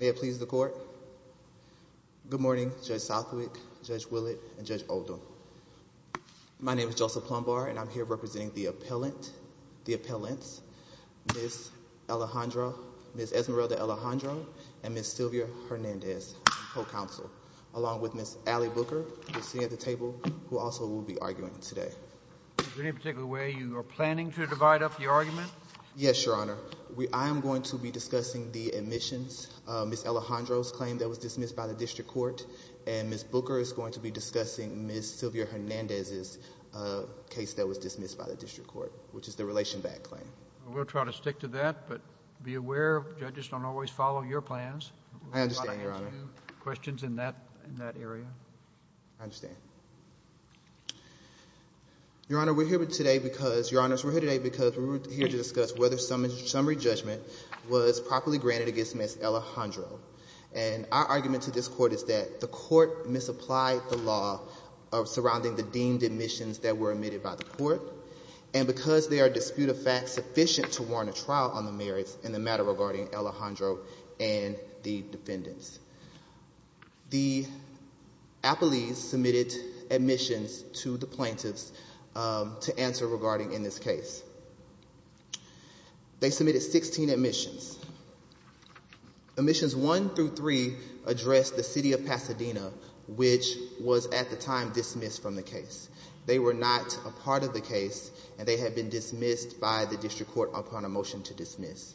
May it please the court. Good morning, Judge Southwick, Judge Willett, and Judge Oldham. My name is Joseph Plumbar, and I'm here representing the appellant, the appellants, Ms. Alejandra, Ms. Esmeralda Alejandro, and Ms. Sylvia Hernandez, whole counsel, along with Ms. Allie Booker, who is sitting at the table, who also will be arguing today. Is there any particular way you are planning to divide up the argument? Yes, Your Honor. I am going to be discussing the admissions, Ms. Alejandro's claim that was dismissed by the district court, and Ms. Booker is going to be discussing Ms. Sylvia Hernandez's case that was dismissed by the district court, which is the relation back claim. We'll try to stick to that, but be aware, judges don't always follow your plans. I understand, Your Honor. We want to answer questions in that area. I understand. Your Honor, we're here today because, Your Honors, we're here today because we're here to discuss whether summary judgment was properly granted against Ms. Alejandro. And our argument to this court is that the court misapplied the law surrounding the deemed admissions that were admitted by the court, and because there are disputed facts sufficient to warrant a trial on the merits in the matter regarding Alejandro and the defendants. The appellees submitted admissions to the plaintiffs to answer regarding in this case. They submitted 16 admissions. Admissions 1 through 3 addressed the city of Pasadena, which was at the time dismissed from the case. They were not a part of the case, and they had been dismissed by the district court upon a motion to dismiss.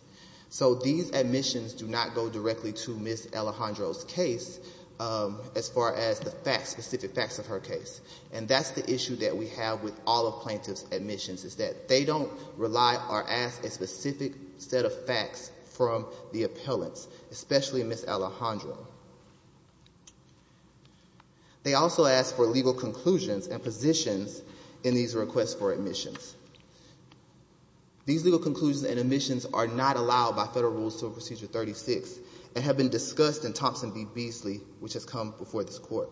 So these admissions do not go directly to Ms. Alejandro's case as far as the facts, specific facts of her case. And that's the issue that we have with all of plaintiff's admissions is that they don't rely or ask a specific set of facts from the appellants, especially Ms. Alejandro. They also ask for legal conclusions and positions in these requests for admissions. These legal conclusions and admissions are not allowed by federal rules to Procedure 36 and have been discussed in Thompson v. Beasley, which has come before this court.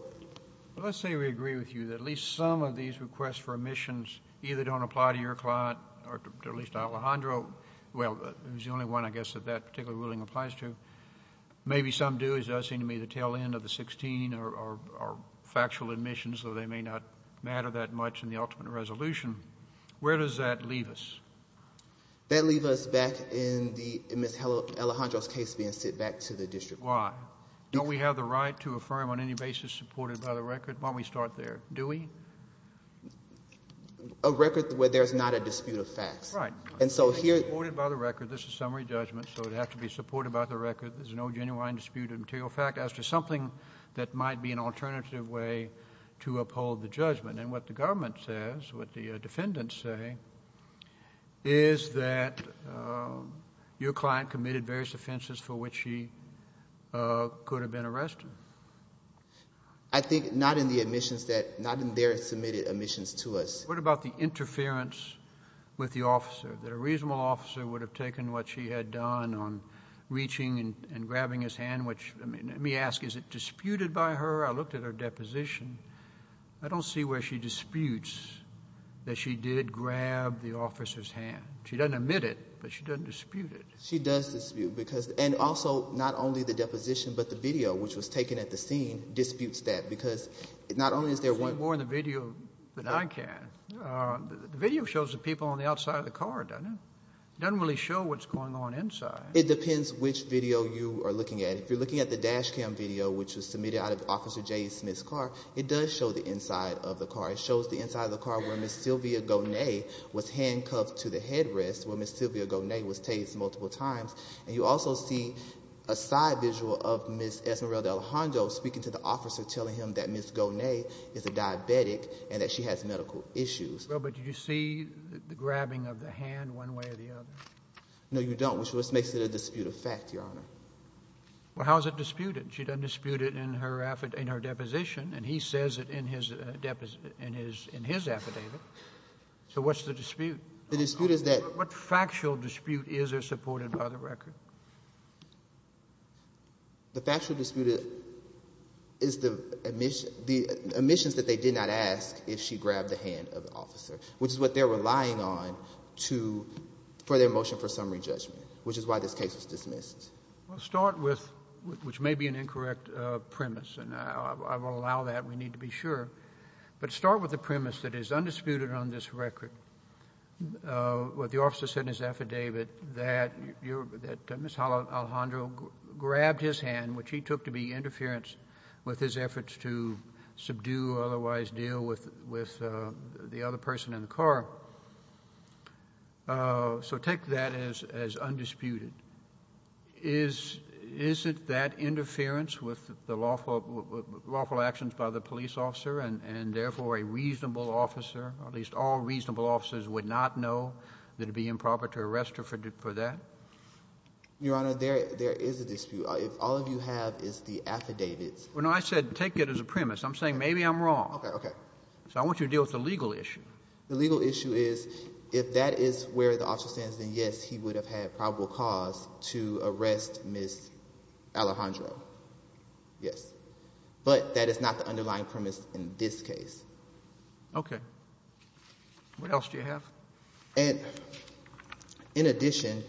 Let's say we agree with you that at least some of these requests for admissions either don't apply to your client or at least to Alejandro. Well, he's the only one, I guess, that that particular ruling applies to. Maybe some do. It does seem to me the tail end of the 16 are factual admissions, though they may not matter that much in the ultimate resolution. Where does that leave us? That leaves us back in Ms. Alejandro's case being sent back to the district court. Why? Don't we have the right to affirm on any basis supported by the record? Why don't we start there? Do we? A record where there's not a dispute of facts. Supported by the record. This is summary judgment, so it has to be supported by the record. There's no genuine dispute of material fact as to something that might be an alternative way to uphold the judgment. And what the government says, what the defendants say, is that your client committed various offenses for which she could have been arrested. I think not in the admissions that, not in their submitted admissions to us. What about the interference with the officer, that a reasonable officer would have taken what she had done on reaching and grabbing his hand? Let me ask, is it disputed by her? I looked at her deposition. I don't see where she disputes that she did grab the officer's hand. She doesn't admit it, but she doesn't dispute it. She does dispute, and also not only the deposition, but the video, which was taken at the scene, disputes that. You can see more in the video than I can. The video shows the people on the outside of the car, doesn't it? It doesn't really show what's going on inside. It depends which video you are looking at. If you're looking at the dash cam video, which was submitted out of Officer J. Smith's car, it does show the inside of the car. It shows the inside of the car where Ms. Sylvia Gonet was handcuffed to the headrest, where Ms. Sylvia Gonet was tased multiple times. And you also see a side visual of Ms. Esmeralda Alejandro speaking to the officer, telling him that Ms. Gonet is a diabetic and that she has medical issues. Well, but did you see the grabbing of the hand one way or the other? No, you don't, which makes it a disputed fact, Your Honor. Well, how is it disputed? She doesn't dispute it in her deposition, and he says it in his affidavit. So what's the dispute? The dispute is that— The factually disputed is the omissions that they did not ask if she grabbed the hand of the officer, which is what they're relying on for their motion for summary judgment, which is why this case was dismissed. Well, start with—which may be an incorrect premise, and I will allow that. We need to be sure. But start with the premise that it is undisputed on this record, what the officer said in his affidavit, that Ms. Alejandro grabbed his hand, which he took to be interference with his efforts to subdue or otherwise deal with the other person in the car. So take that as undisputed. Is it that interference with the lawful actions by the police officer and, therefore, a reasonable officer, or at least all reasonable officers would not know that it would be improper to arrest her for that? Your Honor, there is a dispute. If all of you have is the affidavit— Well, no, I said take it as a premise. I'm saying maybe I'm wrong. Okay, okay. So I want you to deal with the legal issue. The legal issue is if that is where the officer stands, then, yes, he would have had probable cause to arrest Ms. Alejandro. Yes. But that is not the underlying premise in this case. Okay. What else do you have? In addition,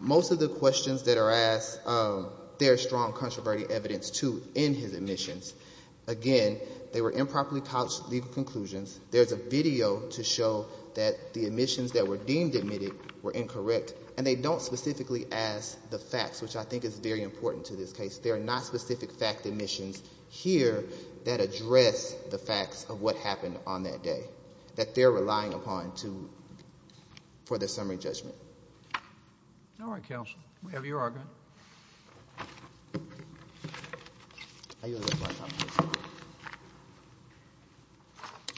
most of the questions that are asked, there is strong controversy evidence, too, in his admissions. Again, they were improperly couched legal conclusions. There is a video to show that the admissions that were deemed admitted were incorrect, and they don't specifically ask the facts, which I think is very important to this case. There are not specific fact admissions here that address the facts of what happened on that day, that they're relying upon for their summary judgment. All right, counsel. We have your argument.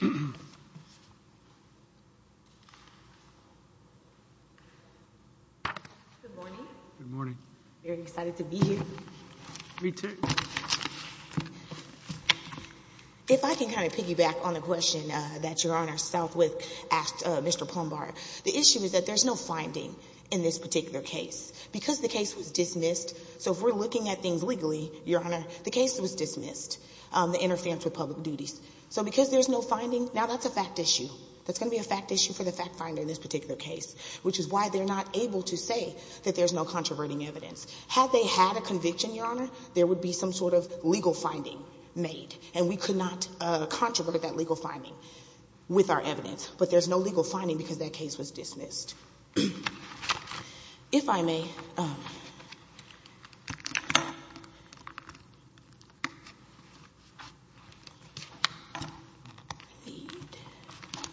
Good morning. Good morning. Very excited to be here. Me, too. If I can kind of piggyback on the question that Your Honor Southwick asked Mr. Plumbar, the issue is that there's no finding in this particular case. Because the case was dismissed, so if we're looking at things legally, Your Honor, the case was dismissed, the interference with public duties. So because there's no finding, now that's a fact issue. That's going to be a fact issue for the fact finder in this particular case, which is why they're not able to say that there's no controverting evidence. Had they had a conviction, Your Honor, there would be some sort of legal finding made, and we could not controvert that legal finding with our evidence. But there's no legal finding because that case was dismissed. If I may.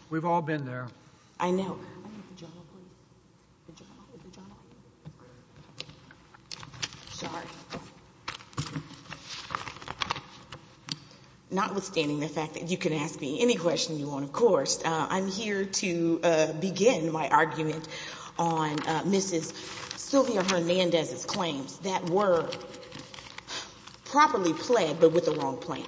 We've all been there. I know. Sorry. Notwithstanding the fact that you can ask me any question you want, of course, I'm here to begin my argument on Mrs. Sylvia Hernandez's claims that were properly pled, but with the wrong plans.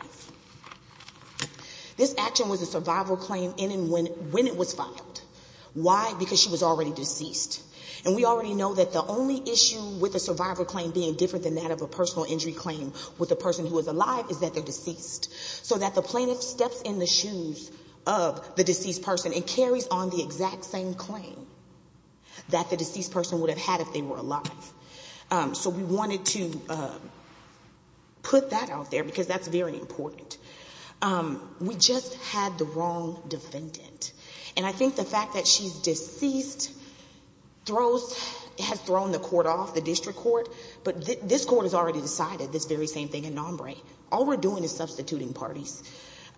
This action was a survival claim in and when it was filed. Why? Because she was already deceased. And we already know that the only issue with a survival claim being different than that of a personal injury claim with a person who was alive is that they're deceased, so that the plaintiff steps in the shoes of the deceased person and carries on the exact same claim that the deceased person would have had if they were alive. So we wanted to put that out there because that's very important. We just had the wrong defendant. And I think the fact that she's deceased has thrown the court off, the district court, but this court has already decided this very same thing in Nombre. All we're doing is substituting parties.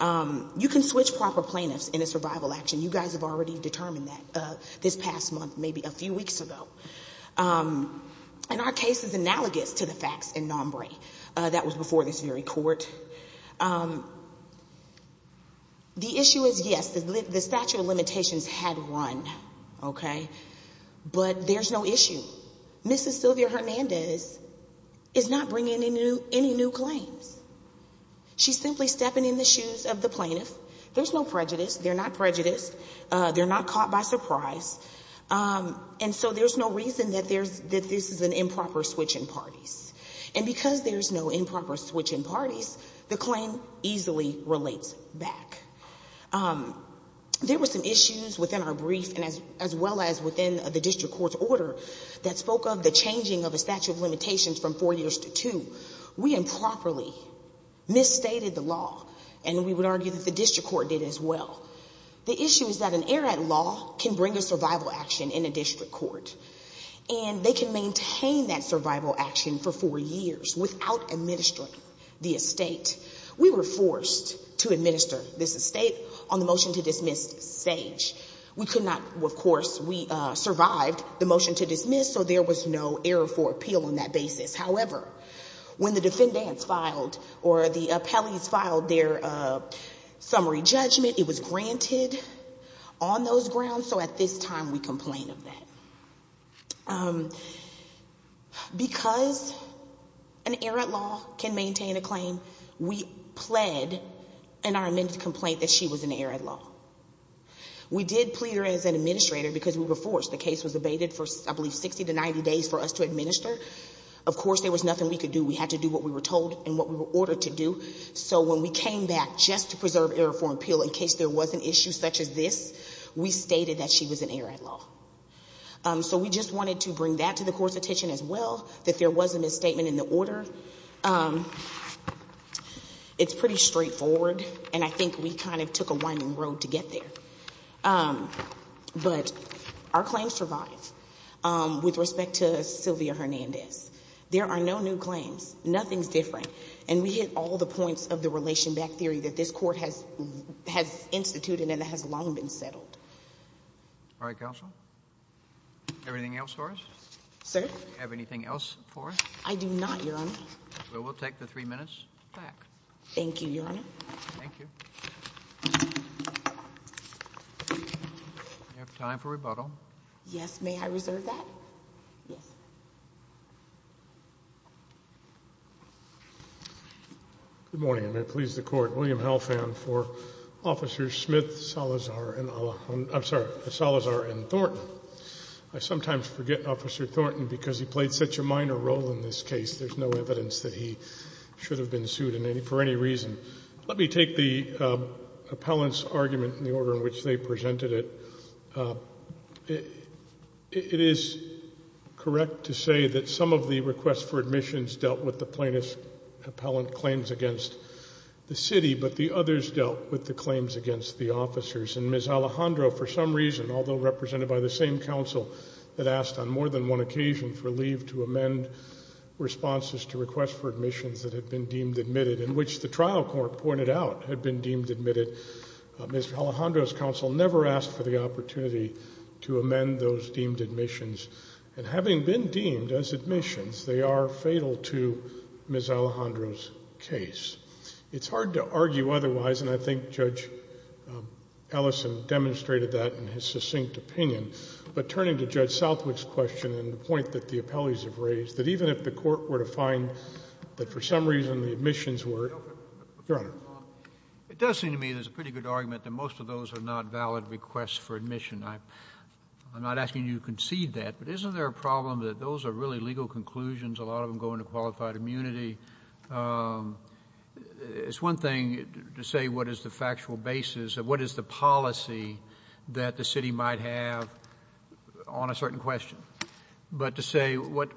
You can switch proper plaintiffs in a survival action. You guys have already determined that this past month, maybe a few weeks ago. And our case is analogous to the facts in Nombre. That was before this very court. The issue is, yes, the statute of limitations had run, okay, but there's no issue. Mrs. Sylvia Hernandez is not bringing any new claims. She's simply stepping in the shoes of the plaintiff. There's no prejudice. They're not prejudiced. They're not caught by surprise. And so there's no reason that this is an improper switch in parties. And because there's no improper switch in parties, the claim easily relates back. There were some issues within our brief as well as within the district court's order that spoke of the changing of a statute of limitations from four years to two. We improperly misstated the law, and we would argue that the district court did as well. The issue is that an error at law can bring a survival action in a district court, and they can maintain that survival action for four years without administering the estate. We were forced to administer this estate on the motion to dismiss stage. We could not, of course, we survived the motion to dismiss, so there was no error for appeal on that basis. However, when the defendants filed or the appellees filed their summary judgment, it was granted on those grounds, so at this time we complain of that. Because an error at law can maintain a claim, we pled in our amended complaint that she was an error at law. We did plead her as an administrator because we were forced. The case was abated for, I believe, 60 to 90 days for us to administer. Of course, there was nothing we could do. We had to do what we were told and what we were ordered to do. So when we came back just to preserve error for appeal in case there was an issue such as this, we stated that she was an error at law. So we just wanted to bring that to the court's attention as well, that there was a misstatement in the order. It's pretty straightforward, and I think we kind of took a winding road to get there. But our claims survive. With respect to Sylvia Hernandez, there are no new claims. Nothing's different. And we hit all the points of the relation back theory that this court has instituted and that has long been settled. All right, counsel. Do you have anything else for us? Sir? Do you have anything else for us? I do not, Your Honor. Well, we'll take the three minutes back. Thank you, Your Honor. Thank you. Do you have time for rebuttal? Yes. May I reserve that? Yes. Good morning, and may it please the Court. William Halfand for Officers Smith, Salazar, and Thornton. I sometimes forget Officer Thornton because he played such a minor role in this case. There's no evidence that he should have been sued for any reason. Let me take the appellant's argument in the order in which they presented it. It is correct to say that some of the requests for admissions dealt with the plaintiff's appellant claims against the city, but the others dealt with the claims against the officers. And Ms. Alejandro, for some reason, although represented by the same counsel, had asked on more than one occasion for leave to amend responses to requests for admissions that had been deemed admitted, in which the trial court pointed out had been deemed admitted. Ms. Alejandro's counsel never asked for the opportunity to amend those deemed admissions, and having been deemed as admissions, they are fatal to Ms. Alejandro's case. It's hard to argue otherwise, and I think Judge Ellison demonstrated that in his succinct opinion. But turning to Judge Southwick's question and the point that the appellees have raised, that even if the court were to find that for some reason the admissions were— Your Honor. It does seem to me there's a pretty good argument that most of those are not valid requests for admission. I'm not asking you to concede that, but isn't there a problem that those are really legal conclusions? A lot of them go into qualified immunity. It's one thing to say what is the factual basis of what is the policy that the city might have on a certain question, but to say what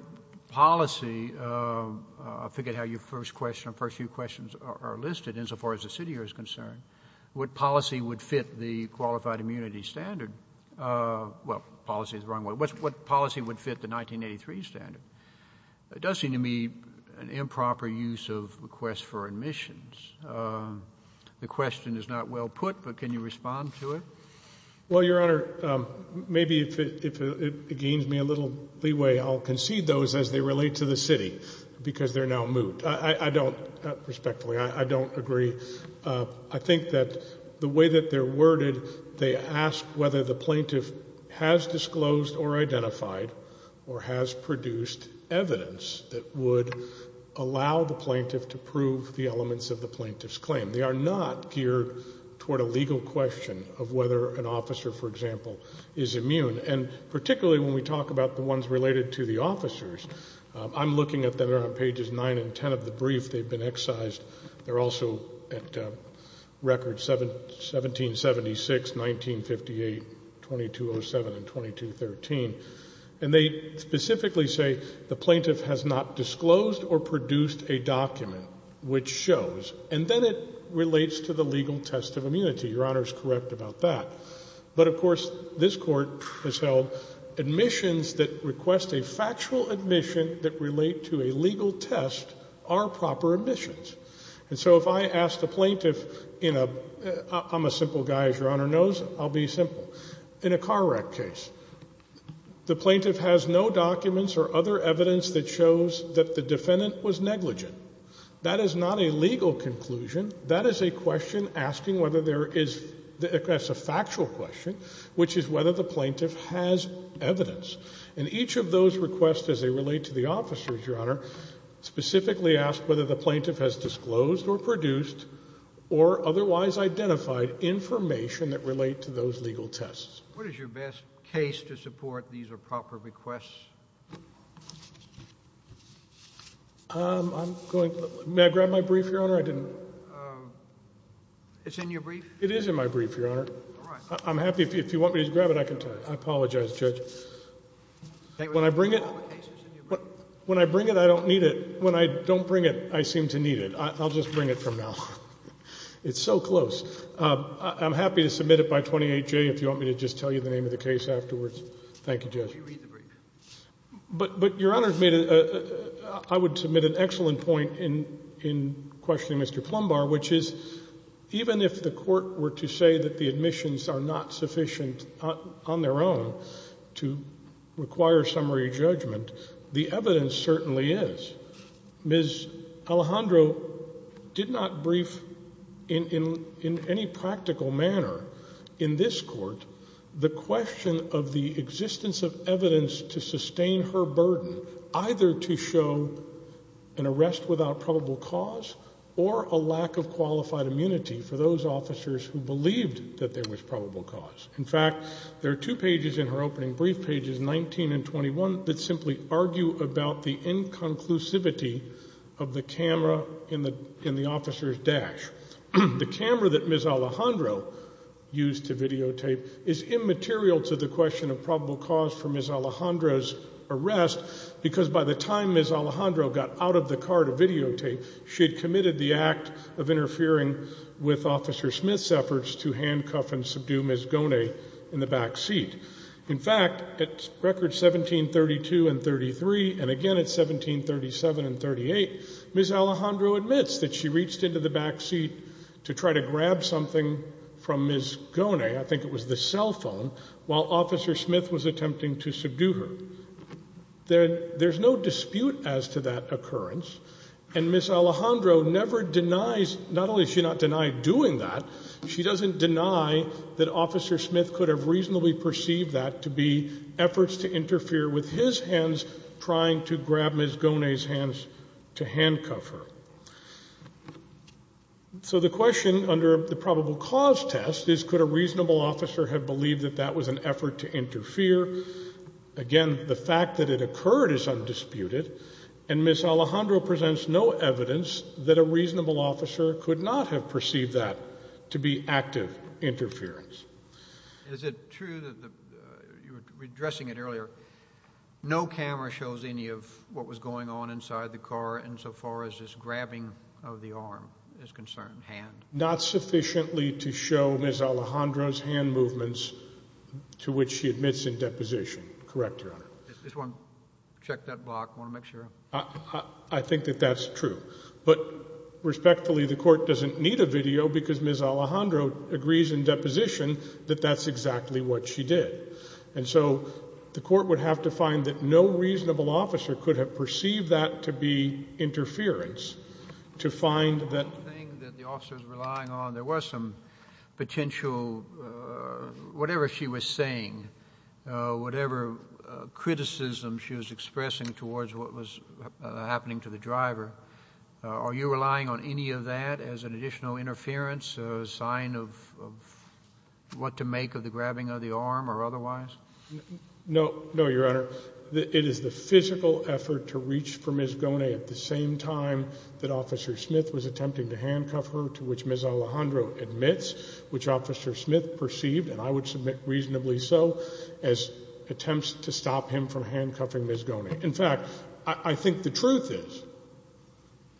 policy—I forget how your first question or first few questions are listed, insofar as the city is concerned—what policy would fit the qualified immunity standard? Well, policy is the wrong word. What policy would fit the 1983 standard? It does seem to me an improper use of requests for admissions. The question is not well put, but can you respond to it? Well, Your Honor, maybe if it gains me a little leeway, I'll concede those as they relate to the city because they're now moot. I don't—respectfully, I don't agree. I think that the way that they're worded, they ask whether the plaintiff has disclosed or identified or has produced evidence that would allow the plaintiff to prove the elements of the plaintiff's claim. They are not geared toward a legal question of whether an officer, for example, is immune. And particularly when we talk about the ones related to the officers, I'm looking at them. They're on pages 9 and 10 of the brief. They've been excised. They're also at records 1776, 1958, 2207, and 2213. And they specifically say the plaintiff has not disclosed or produced a document which shows. And then it relates to the legal test of immunity. Your Honor is correct about that. But, of course, this Court has held admissions that request a factual admission that relate to a legal test are proper admissions. And so if I ask the plaintiff in a—I'm a simple guy, as Your Honor knows. I'll be simple. In a car wreck case, the plaintiff has no documents or other evidence that shows that the defendant was negligent. That is not a legal conclusion. That is a question asking whether there is—that's a factual question, which is whether the plaintiff has evidence. And each of those requests, as they relate to the officers, Your Honor, specifically ask whether the plaintiff has disclosed or produced or otherwise identified information that relate to those legal tests. What is your best case to support these are proper requests? I'm going—may I grab my brief, Your Honor? I didn't— It's in your brief? It is in my brief, Your Honor. All right. I'm happy—if you want me to grab it, I can tell you. I apologize, Judge. When I bring it, I don't need it. When I don't bring it, I seem to need it. I'll just bring it from now on. It's so close. I'm happy to submit it by 28J if you want me to just tell you the name of the case afterwards. Thank you, Judge. But, Your Honor, I would submit an excellent point in questioning Mr. Plumbar, which is even if the court were to say that the admissions are not sufficient on their own to require summary judgment, the evidence certainly is. Ms. Alejandro did not brief in any practical manner in this court the question of the existence of evidence to sustain her burden, either to show an arrest without probable cause or a lack of qualified immunity for those officers who believed that there was probable cause. In fact, there are two pages in her opening brief, pages 19 and 21, that simply argue about the inconclusivity of the camera in the officer's dash. The camera that Ms. Alejandro used to videotape is immaterial to the question of probable cause for Ms. Alejandro's arrest because by the time In fact, at records 1732 and 33, and again at 1737 and 38, Ms. Alejandro admits that she reached into the back seat to try to grab something from Ms. Gonay, I think it was the cell phone, while Officer Smith was attempting to subdue her. There's no dispute as to that occurrence. And Ms. Alejandro never denies, not only does she not deny doing that, she doesn't deny that Officer Smith could have reasonably perceived that to be efforts to interfere with his hands trying to grab Ms. Gonay's hands to handcuff her. So the question under the probable cause test is could a reasonable officer have believed that that was an effort to interfere? Again, the fact that it occurred is undisputed, and Ms. Alejandro presents no evidence that a reasonable officer could not have perceived that to be active interference. Is it true that, you were addressing it earlier, no camera shows any of what was going on inside the car insofar as this grabbing of the arm is concerned, hand? Not sufficiently to show Ms. Alejandro's hand movements to which she admits in deposition, correct Your Honor? I just want to check that block, want to make sure. I think that that's true. But respectfully, the Court doesn't need a video because Ms. Alejandro agrees in deposition that that's exactly what she did. And so the Court would have to find that no reasonable officer could have perceived that to be interference to find that The one thing that the officer is relying on, there was some potential, whatever she was saying, whatever criticism she was expressing towards what was happening to the driver, are you relying on any of that as an additional interference, a sign of what to make of the grabbing of the arm or otherwise? No, Your Honor. It is the physical effort to reach for Ms. Gonay at the same time that Officer Smith was attempting to handcuff her, to which Ms. Alejandro admits, which Officer Smith perceived, and I would submit reasonably so, as attempts to stop him from handcuffing Ms. Gonay. In fact, I think the truth is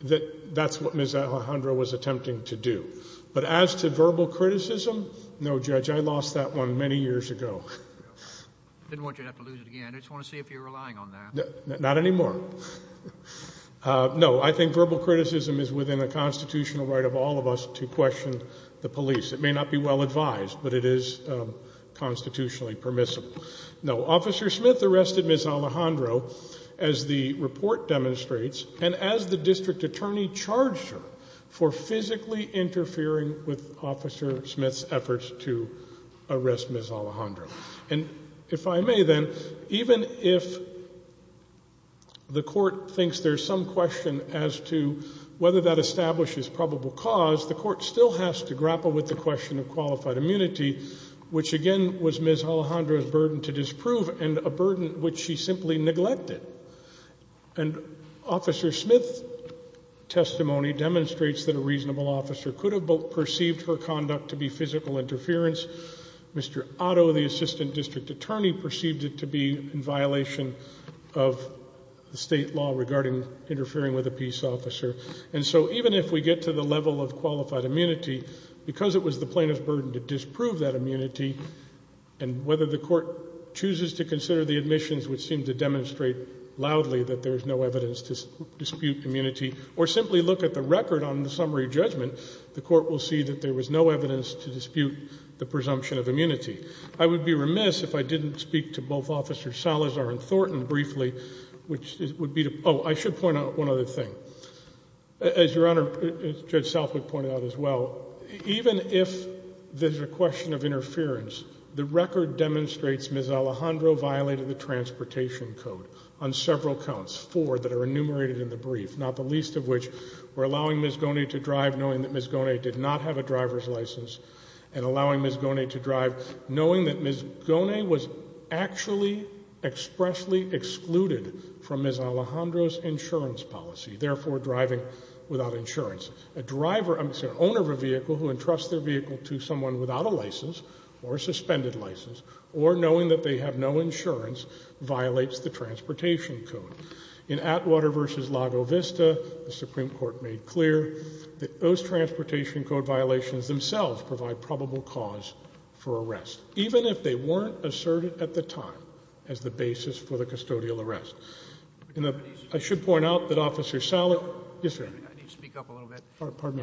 that that's what Ms. Alejandro was attempting to do. But as to verbal criticism, no, Judge, I lost that one many years ago. I didn't want you to have to lose it again. I just want to see if you're relying on that. Not anymore. No, I think verbal criticism is within the constitutional right of all of us to question the police. It may not be well advised, but it is constitutionally permissible. No, Officer Smith arrested Ms. Alejandro, as the report demonstrates, and as the district attorney charged her for physically interfering with Officer Smith's efforts to arrest Ms. Alejandro. And if I may then, even if the court thinks there's some question as to whether that establishes probable cause, the court still has to grapple with the question of qualified immunity, which again was Ms. Alejandro's burden to disprove and a burden which she simply neglected. And Officer Smith's testimony demonstrates that a reasonable officer could have perceived her conduct to be physical interference. Mr. Otto, the assistant district attorney, perceived it to be in violation of the state law regarding interfering with a peace officer. And so even if we get to the level of qualified immunity, because it was the plaintiff's burden to disprove that immunity and whether the court chooses to consider the admissions which seem to demonstrate loudly that there is no evidence to dispute immunity or simply look at the record on the summary judgment, the court will see that there was no evidence to dispute the presumption of immunity. I would be remiss if I didn't speak to both Officers Salazar and Thornton briefly, which would be to – oh, I should point out one other thing. As Your Honor, Judge Southwick pointed out as well, even if there's a question of interference, the record demonstrates Ms. Alejandro violated the transportation code on several counts, four that are enumerated in the brief, not the least of which were allowing Ms. Goney to drive, knowing that Ms. Goney did not have a driver's license, and allowing Ms. Goney to drive, knowing that Ms. Goney was actually expressly excluded from Ms. Alejandro's insurance policy, therefore driving without insurance. A driver, I'm sorry, owner of a vehicle who entrusts their vehicle to someone without a license or a suspended license or knowing that they have no insurance violates the transportation code. In Atwater v. Lago Vista, the Supreme Court made clear that those transportation code violations themselves provide probable cause for arrest, even if they weren't asserted at the time as the basis for the custodial arrest. I should point out that Officer Salazar – yes, sir. I need to speak up a little bit. Pardon me.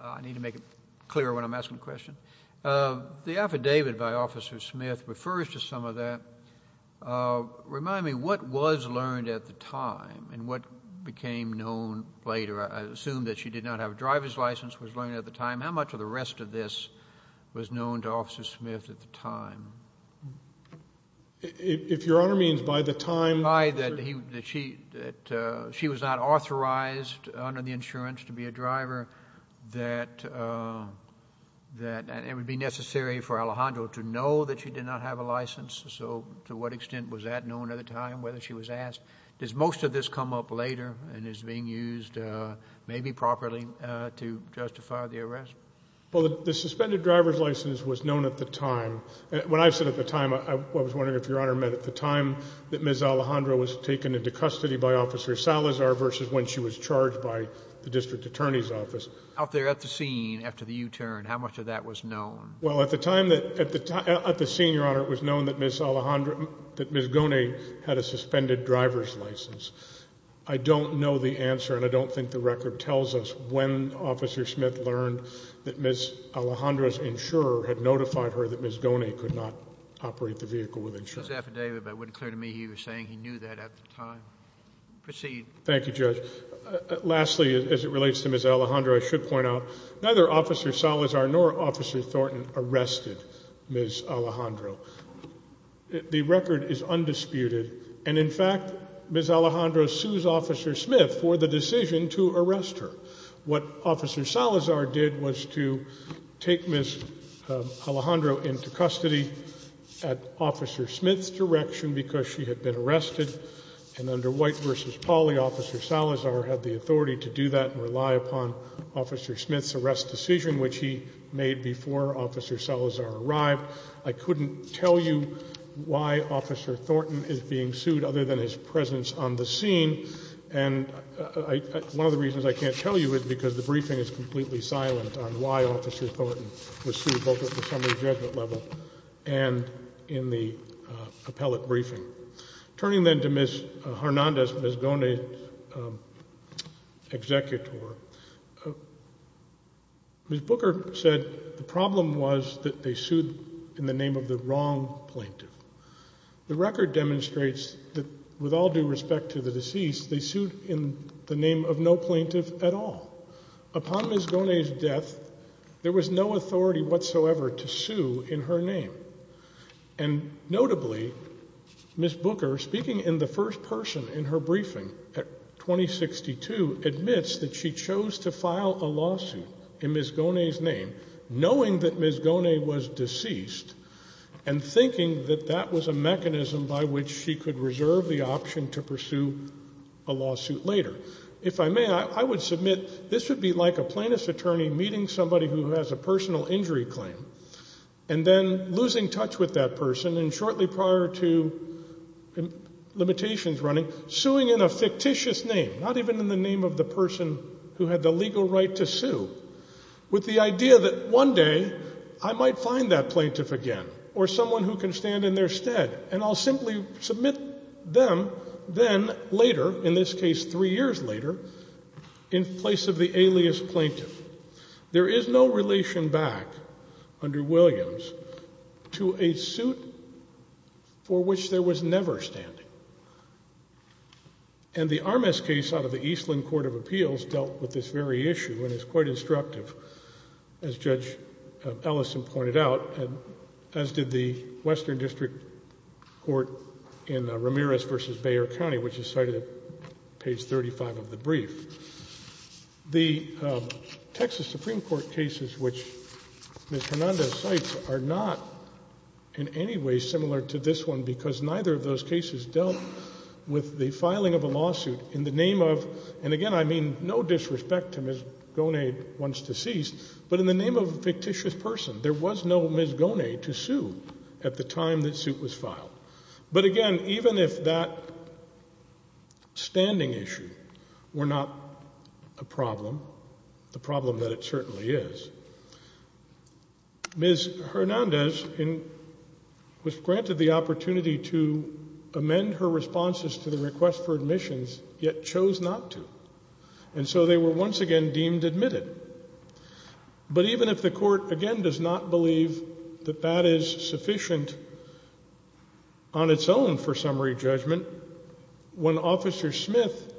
I need to make it clear when I'm asking a question. The affidavit by Officer Smith refers to some of that. Remind me, what was learned at the time and what became known later? I assume that she did not have a driver's license was learned at the time. How much of the rest of this was known to Officer Smith at the time? If Your Honor means by the time – By that she was not authorized under the insurance to be a driver, that it would be necessary for Alejandro to know that she did not have a license. So to what extent was that known at the time, whether she was asked? Does most of this come up later and is being used maybe properly to justify the arrest? Well, the suspended driver's license was known at the time. When I said at the time, I was wondering if Your Honor meant at the time that Ms. Alejandro was taken into custody by Officer Salazar versus when she was charged by the district attorney's office. Out there at the scene after the U-turn, how much of that was known? Well, at the time that – at the scene, Your Honor, it was known that Ms. Alejandro – that Ms. Goni had a suspended driver's license. I don't know the answer and I don't think the record tells us when Officer Smith learned that Ms. Alejandro's insurer had notified her that Ms. Goni could not operate the vehicle with insurance. It's an affidavit, but it wouldn't clear to me he was saying he knew that at the time. Proceed. Thank you, Judge. Lastly, as it relates to Ms. Alejandro, I should point out neither Officer Salazar nor Officer Thornton arrested Ms. Alejandro. The record is undisputed, and in fact, Ms. Alejandro sues Officer Smith for the decision to arrest her. What Officer Salazar did was to take Ms. Alejandro into custody at Officer Smith's direction because she had been arrested, and under White v. Pauley, Officer Salazar had the authority to do that and rely upon Officer Smith's arrest decision, which he made before Officer Salazar arrived. I couldn't tell you why Officer Thornton is being sued other than his presence on the scene, and one of the reasons I can't tell you is because the briefing is completely silent on why Officer Thornton was sued, both at the summary judgment level and in the appellate briefing. Turning then to Ms. Hernandez, Ms. Gonay's executor, Ms. Booker said the problem was that they sued in the name of the wrong plaintiff. The record demonstrates that with all due respect to the deceased, they sued in the name of no plaintiff at all. Upon Ms. Gonay's death, there was no authority whatsoever to sue in her name, and notably, Ms. Booker, speaking in the first person in her briefing at 2062, admits that she chose to file a lawsuit in Ms. Gonay's name, knowing that Ms. Gonay was deceased and thinking that that was a mechanism by which she could reserve the option to pursue a lawsuit later. If I may, I would submit this would be like a plaintiff's attorney meeting somebody who has a personal injury claim and then losing touch with that person and shortly prior to limitations running, suing in a fictitious name, not even in the name of the person who had the legal right to sue, with the idea that one day I might find that plaintiff again or someone who can stand in their stead, and I'll simply submit them then later, in this case three years later, in place of the alias plaintiff. There is no relation back under Williams to a suit for which there was never standing. And the Armas case out of the Eastland Court of Appeals dealt with this very issue and is quite instructive, as Judge Ellison pointed out, as did the Western District Court in Ramirez v. Bayer County, which is cited at page 35 of the brief. The Texas Supreme Court cases which Ms. Hernandez cites are not in any way similar to this one because neither of those cases dealt with the filing of a lawsuit in the name of, and again I mean no disrespect to Ms. Gonade, one's deceased, but in the name of a fictitious person. There was no Ms. Gonade to sue at the time that suit was filed. But again, even if that standing issue were not a problem, the problem that it certainly is, Ms. Hernandez was granted the opportunity to amend her responses to the request for admissions, yet chose not to. And so they were once again deemed admitted. But even if the court, again, does not believe that that is sufficient on its own for summary judgment, when Officer Smith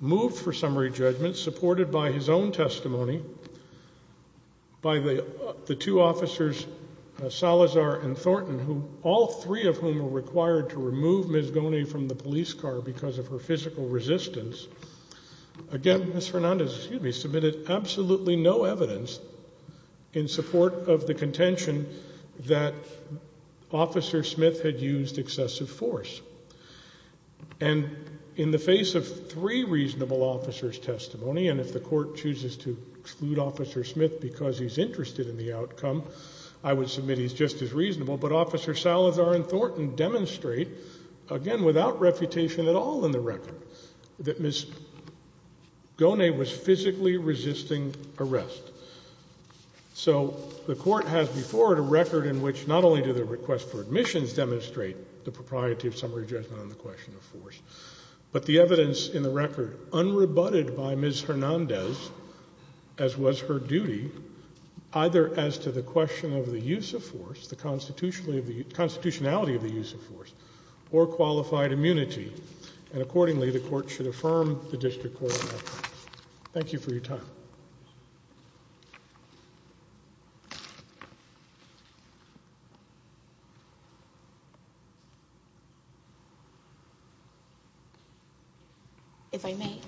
moved for summary judgment, supported by his own testimony, by the two officers Salazar and Thornton, all three of whom were required to remove Ms. Gonade from the police car because of her physical resistance, again Ms. Hernandez submitted absolutely no evidence in support of the contention that Officer Smith had used excessive force. And in the face of three reasonable officers' testimony, and if the court chooses to exclude Officer Smith because he's interested in the outcome, I would submit he's just as reasonable, but Officer Salazar and Thornton demonstrate, again without refutation at all in the record, that Ms. Gonade was physically resisting arrest. So the court has before it a record in which not only do the requests for admissions demonstrate the propriety of summary judgment on the question of force, but the evidence in the record, unrebutted by Ms. Hernandez, as was her duty, either as to the question of the use of force, the constitutionality of the use of force, or qualified immunity. And accordingly, the court should affirm the district court. If I may,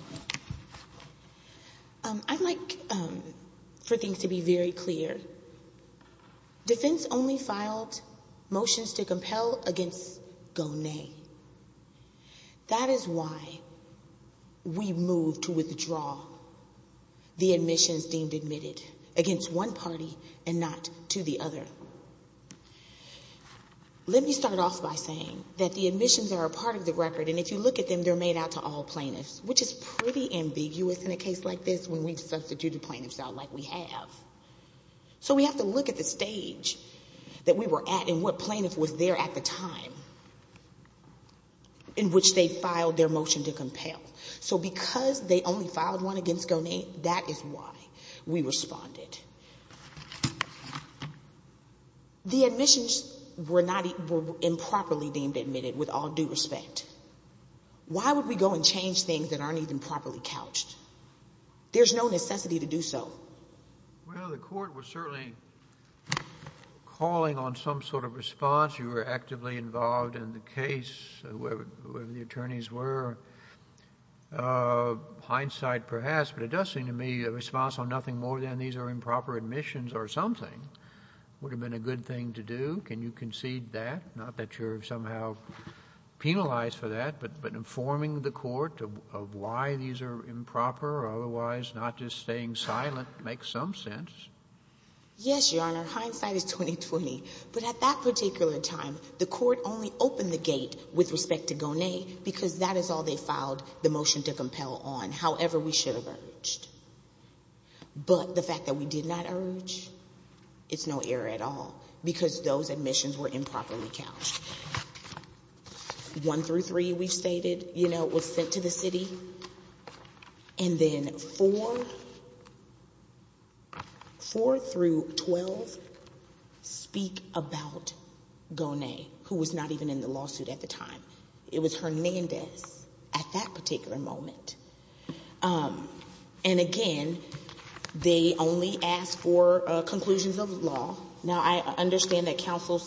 I'd like for things to be very clear. Defense only filed motions to compel against Gonade. That is why we moved to withdraw the admissions deemed admitted against one party and not to the other. Let me start off by saying that the admissions are a part of the record, and if you look at them, they're made out to all plaintiffs, which is pretty ambiguous in a case like this when we've substituted plaintiffs out like we have. So we have to look at the stage that we were at and what plaintiff was there at the time in which they filed their motion to compel. So because they only filed one against Gonade, that is why we responded. The admissions were improperly deemed admitted with all due respect. Why would we go and change things that aren't even properly couched? There's no necessity to do so. Well, the court was certainly calling on some sort of response. You were actively involved in the case, whoever the attorneys were. Hindsight, perhaps, but it does seem to me a response on nothing more than these are improper admissions or something would have been a good thing to do. Can you concede that, not that you're somehow penalized for that, but informing the court of why these are improper or otherwise not just staying silent makes some sense? Yes, Your Honor. Hindsight is 20-20. But at that particular time, the court only opened the gate with respect to Gonade because that is all they filed the motion to compel on, however we should have urged. But the fact that we did not urge, it's no error at all because those admissions were improperly couched. One through three, we've stated, you know, was sent to the city. And then four through 12 speak about Gonade, who was not even in the lawsuit at the time. It was Hernandez at that particular moment. And again, they only asked for conclusions of law. Now, I understand that counsel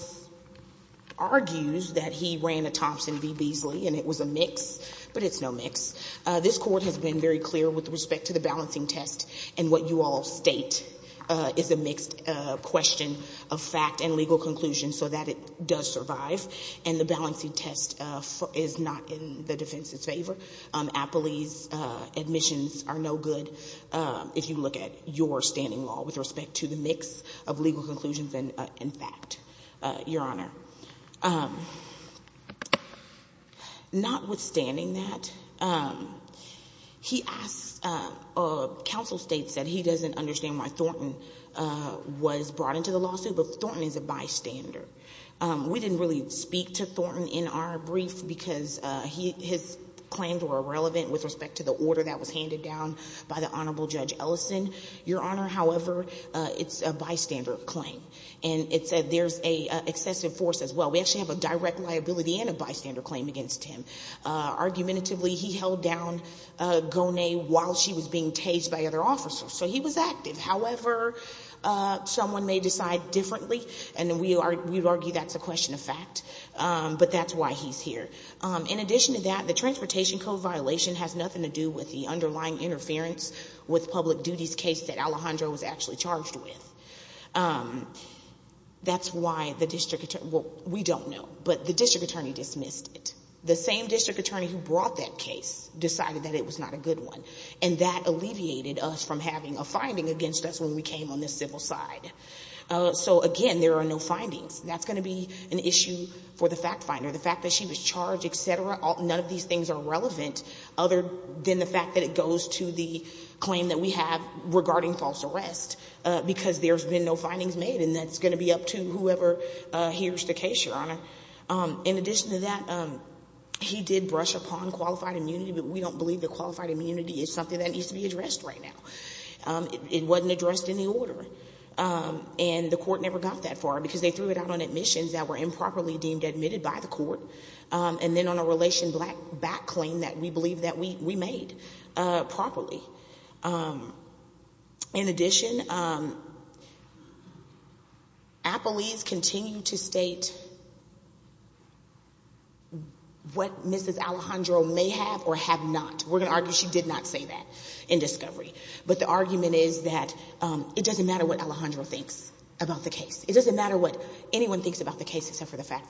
argues that he ran a Thompson v. Beasley and it was a mix, but it's no mix. This court has been very clear with respect to the balancing test and what you all state is a mixed question of fact and legal conclusion so that it does survive. And the balancing test is not in the defense's favor. Appley's admissions are no good if you look at your standing law with respect to the mix of legal conclusions and fact, Your Honor. Notwithstanding that, he asks or counsel states that he doesn't understand why Thornton was brought into the lawsuit, but Thornton is a bystander. We didn't really speak to Thornton in our brief because his claims were irrelevant with respect to the order that was handed down by the Honorable Judge Ellison. Your Honor, however, it's a bystander claim. And it said there's an excessive force as well. We actually have a direct liability and a bystander claim against him. Argumentatively, he held down Gonade while she was being tased by other officers. So he was active. However, someone may decide differently, and we argue that's a question of fact. But that's why he's here. In addition to that, the transportation code violation has nothing to do with the underlying interference with public duties case that Alejandro was actually charged with. That's why the district attorney, well, we don't know, but the district attorney dismissed it. The same district attorney who brought that case decided that it was not a good one. And that alleviated us from having a finding against us when we came on the civil side. So, again, there are no findings. That's going to be an issue for the fact finder. The fact that she was charged, et cetera, none of these things are relevant other than the fact that it goes to the claim that we have regarding false arrest. Because there's been no findings made, and that's going to be up to whoever hears the case, Your Honor. In addition to that, he did brush upon qualified immunity, but we don't believe that qualified immunity is something that needs to be addressed right now. It wasn't addressed in the order, and the court never got that far because they threw it out on admissions that were improperly deemed admitted by the court. And then on a relation back claim that we believe that we made properly. In addition, appellees continue to state what Mrs. Alejandro may have or have not. We're going to argue she did not say that in discovery. But the argument is that it doesn't matter what Alejandro thinks about the case. It doesn't matter what anyone thinks about the case except for the fact finder.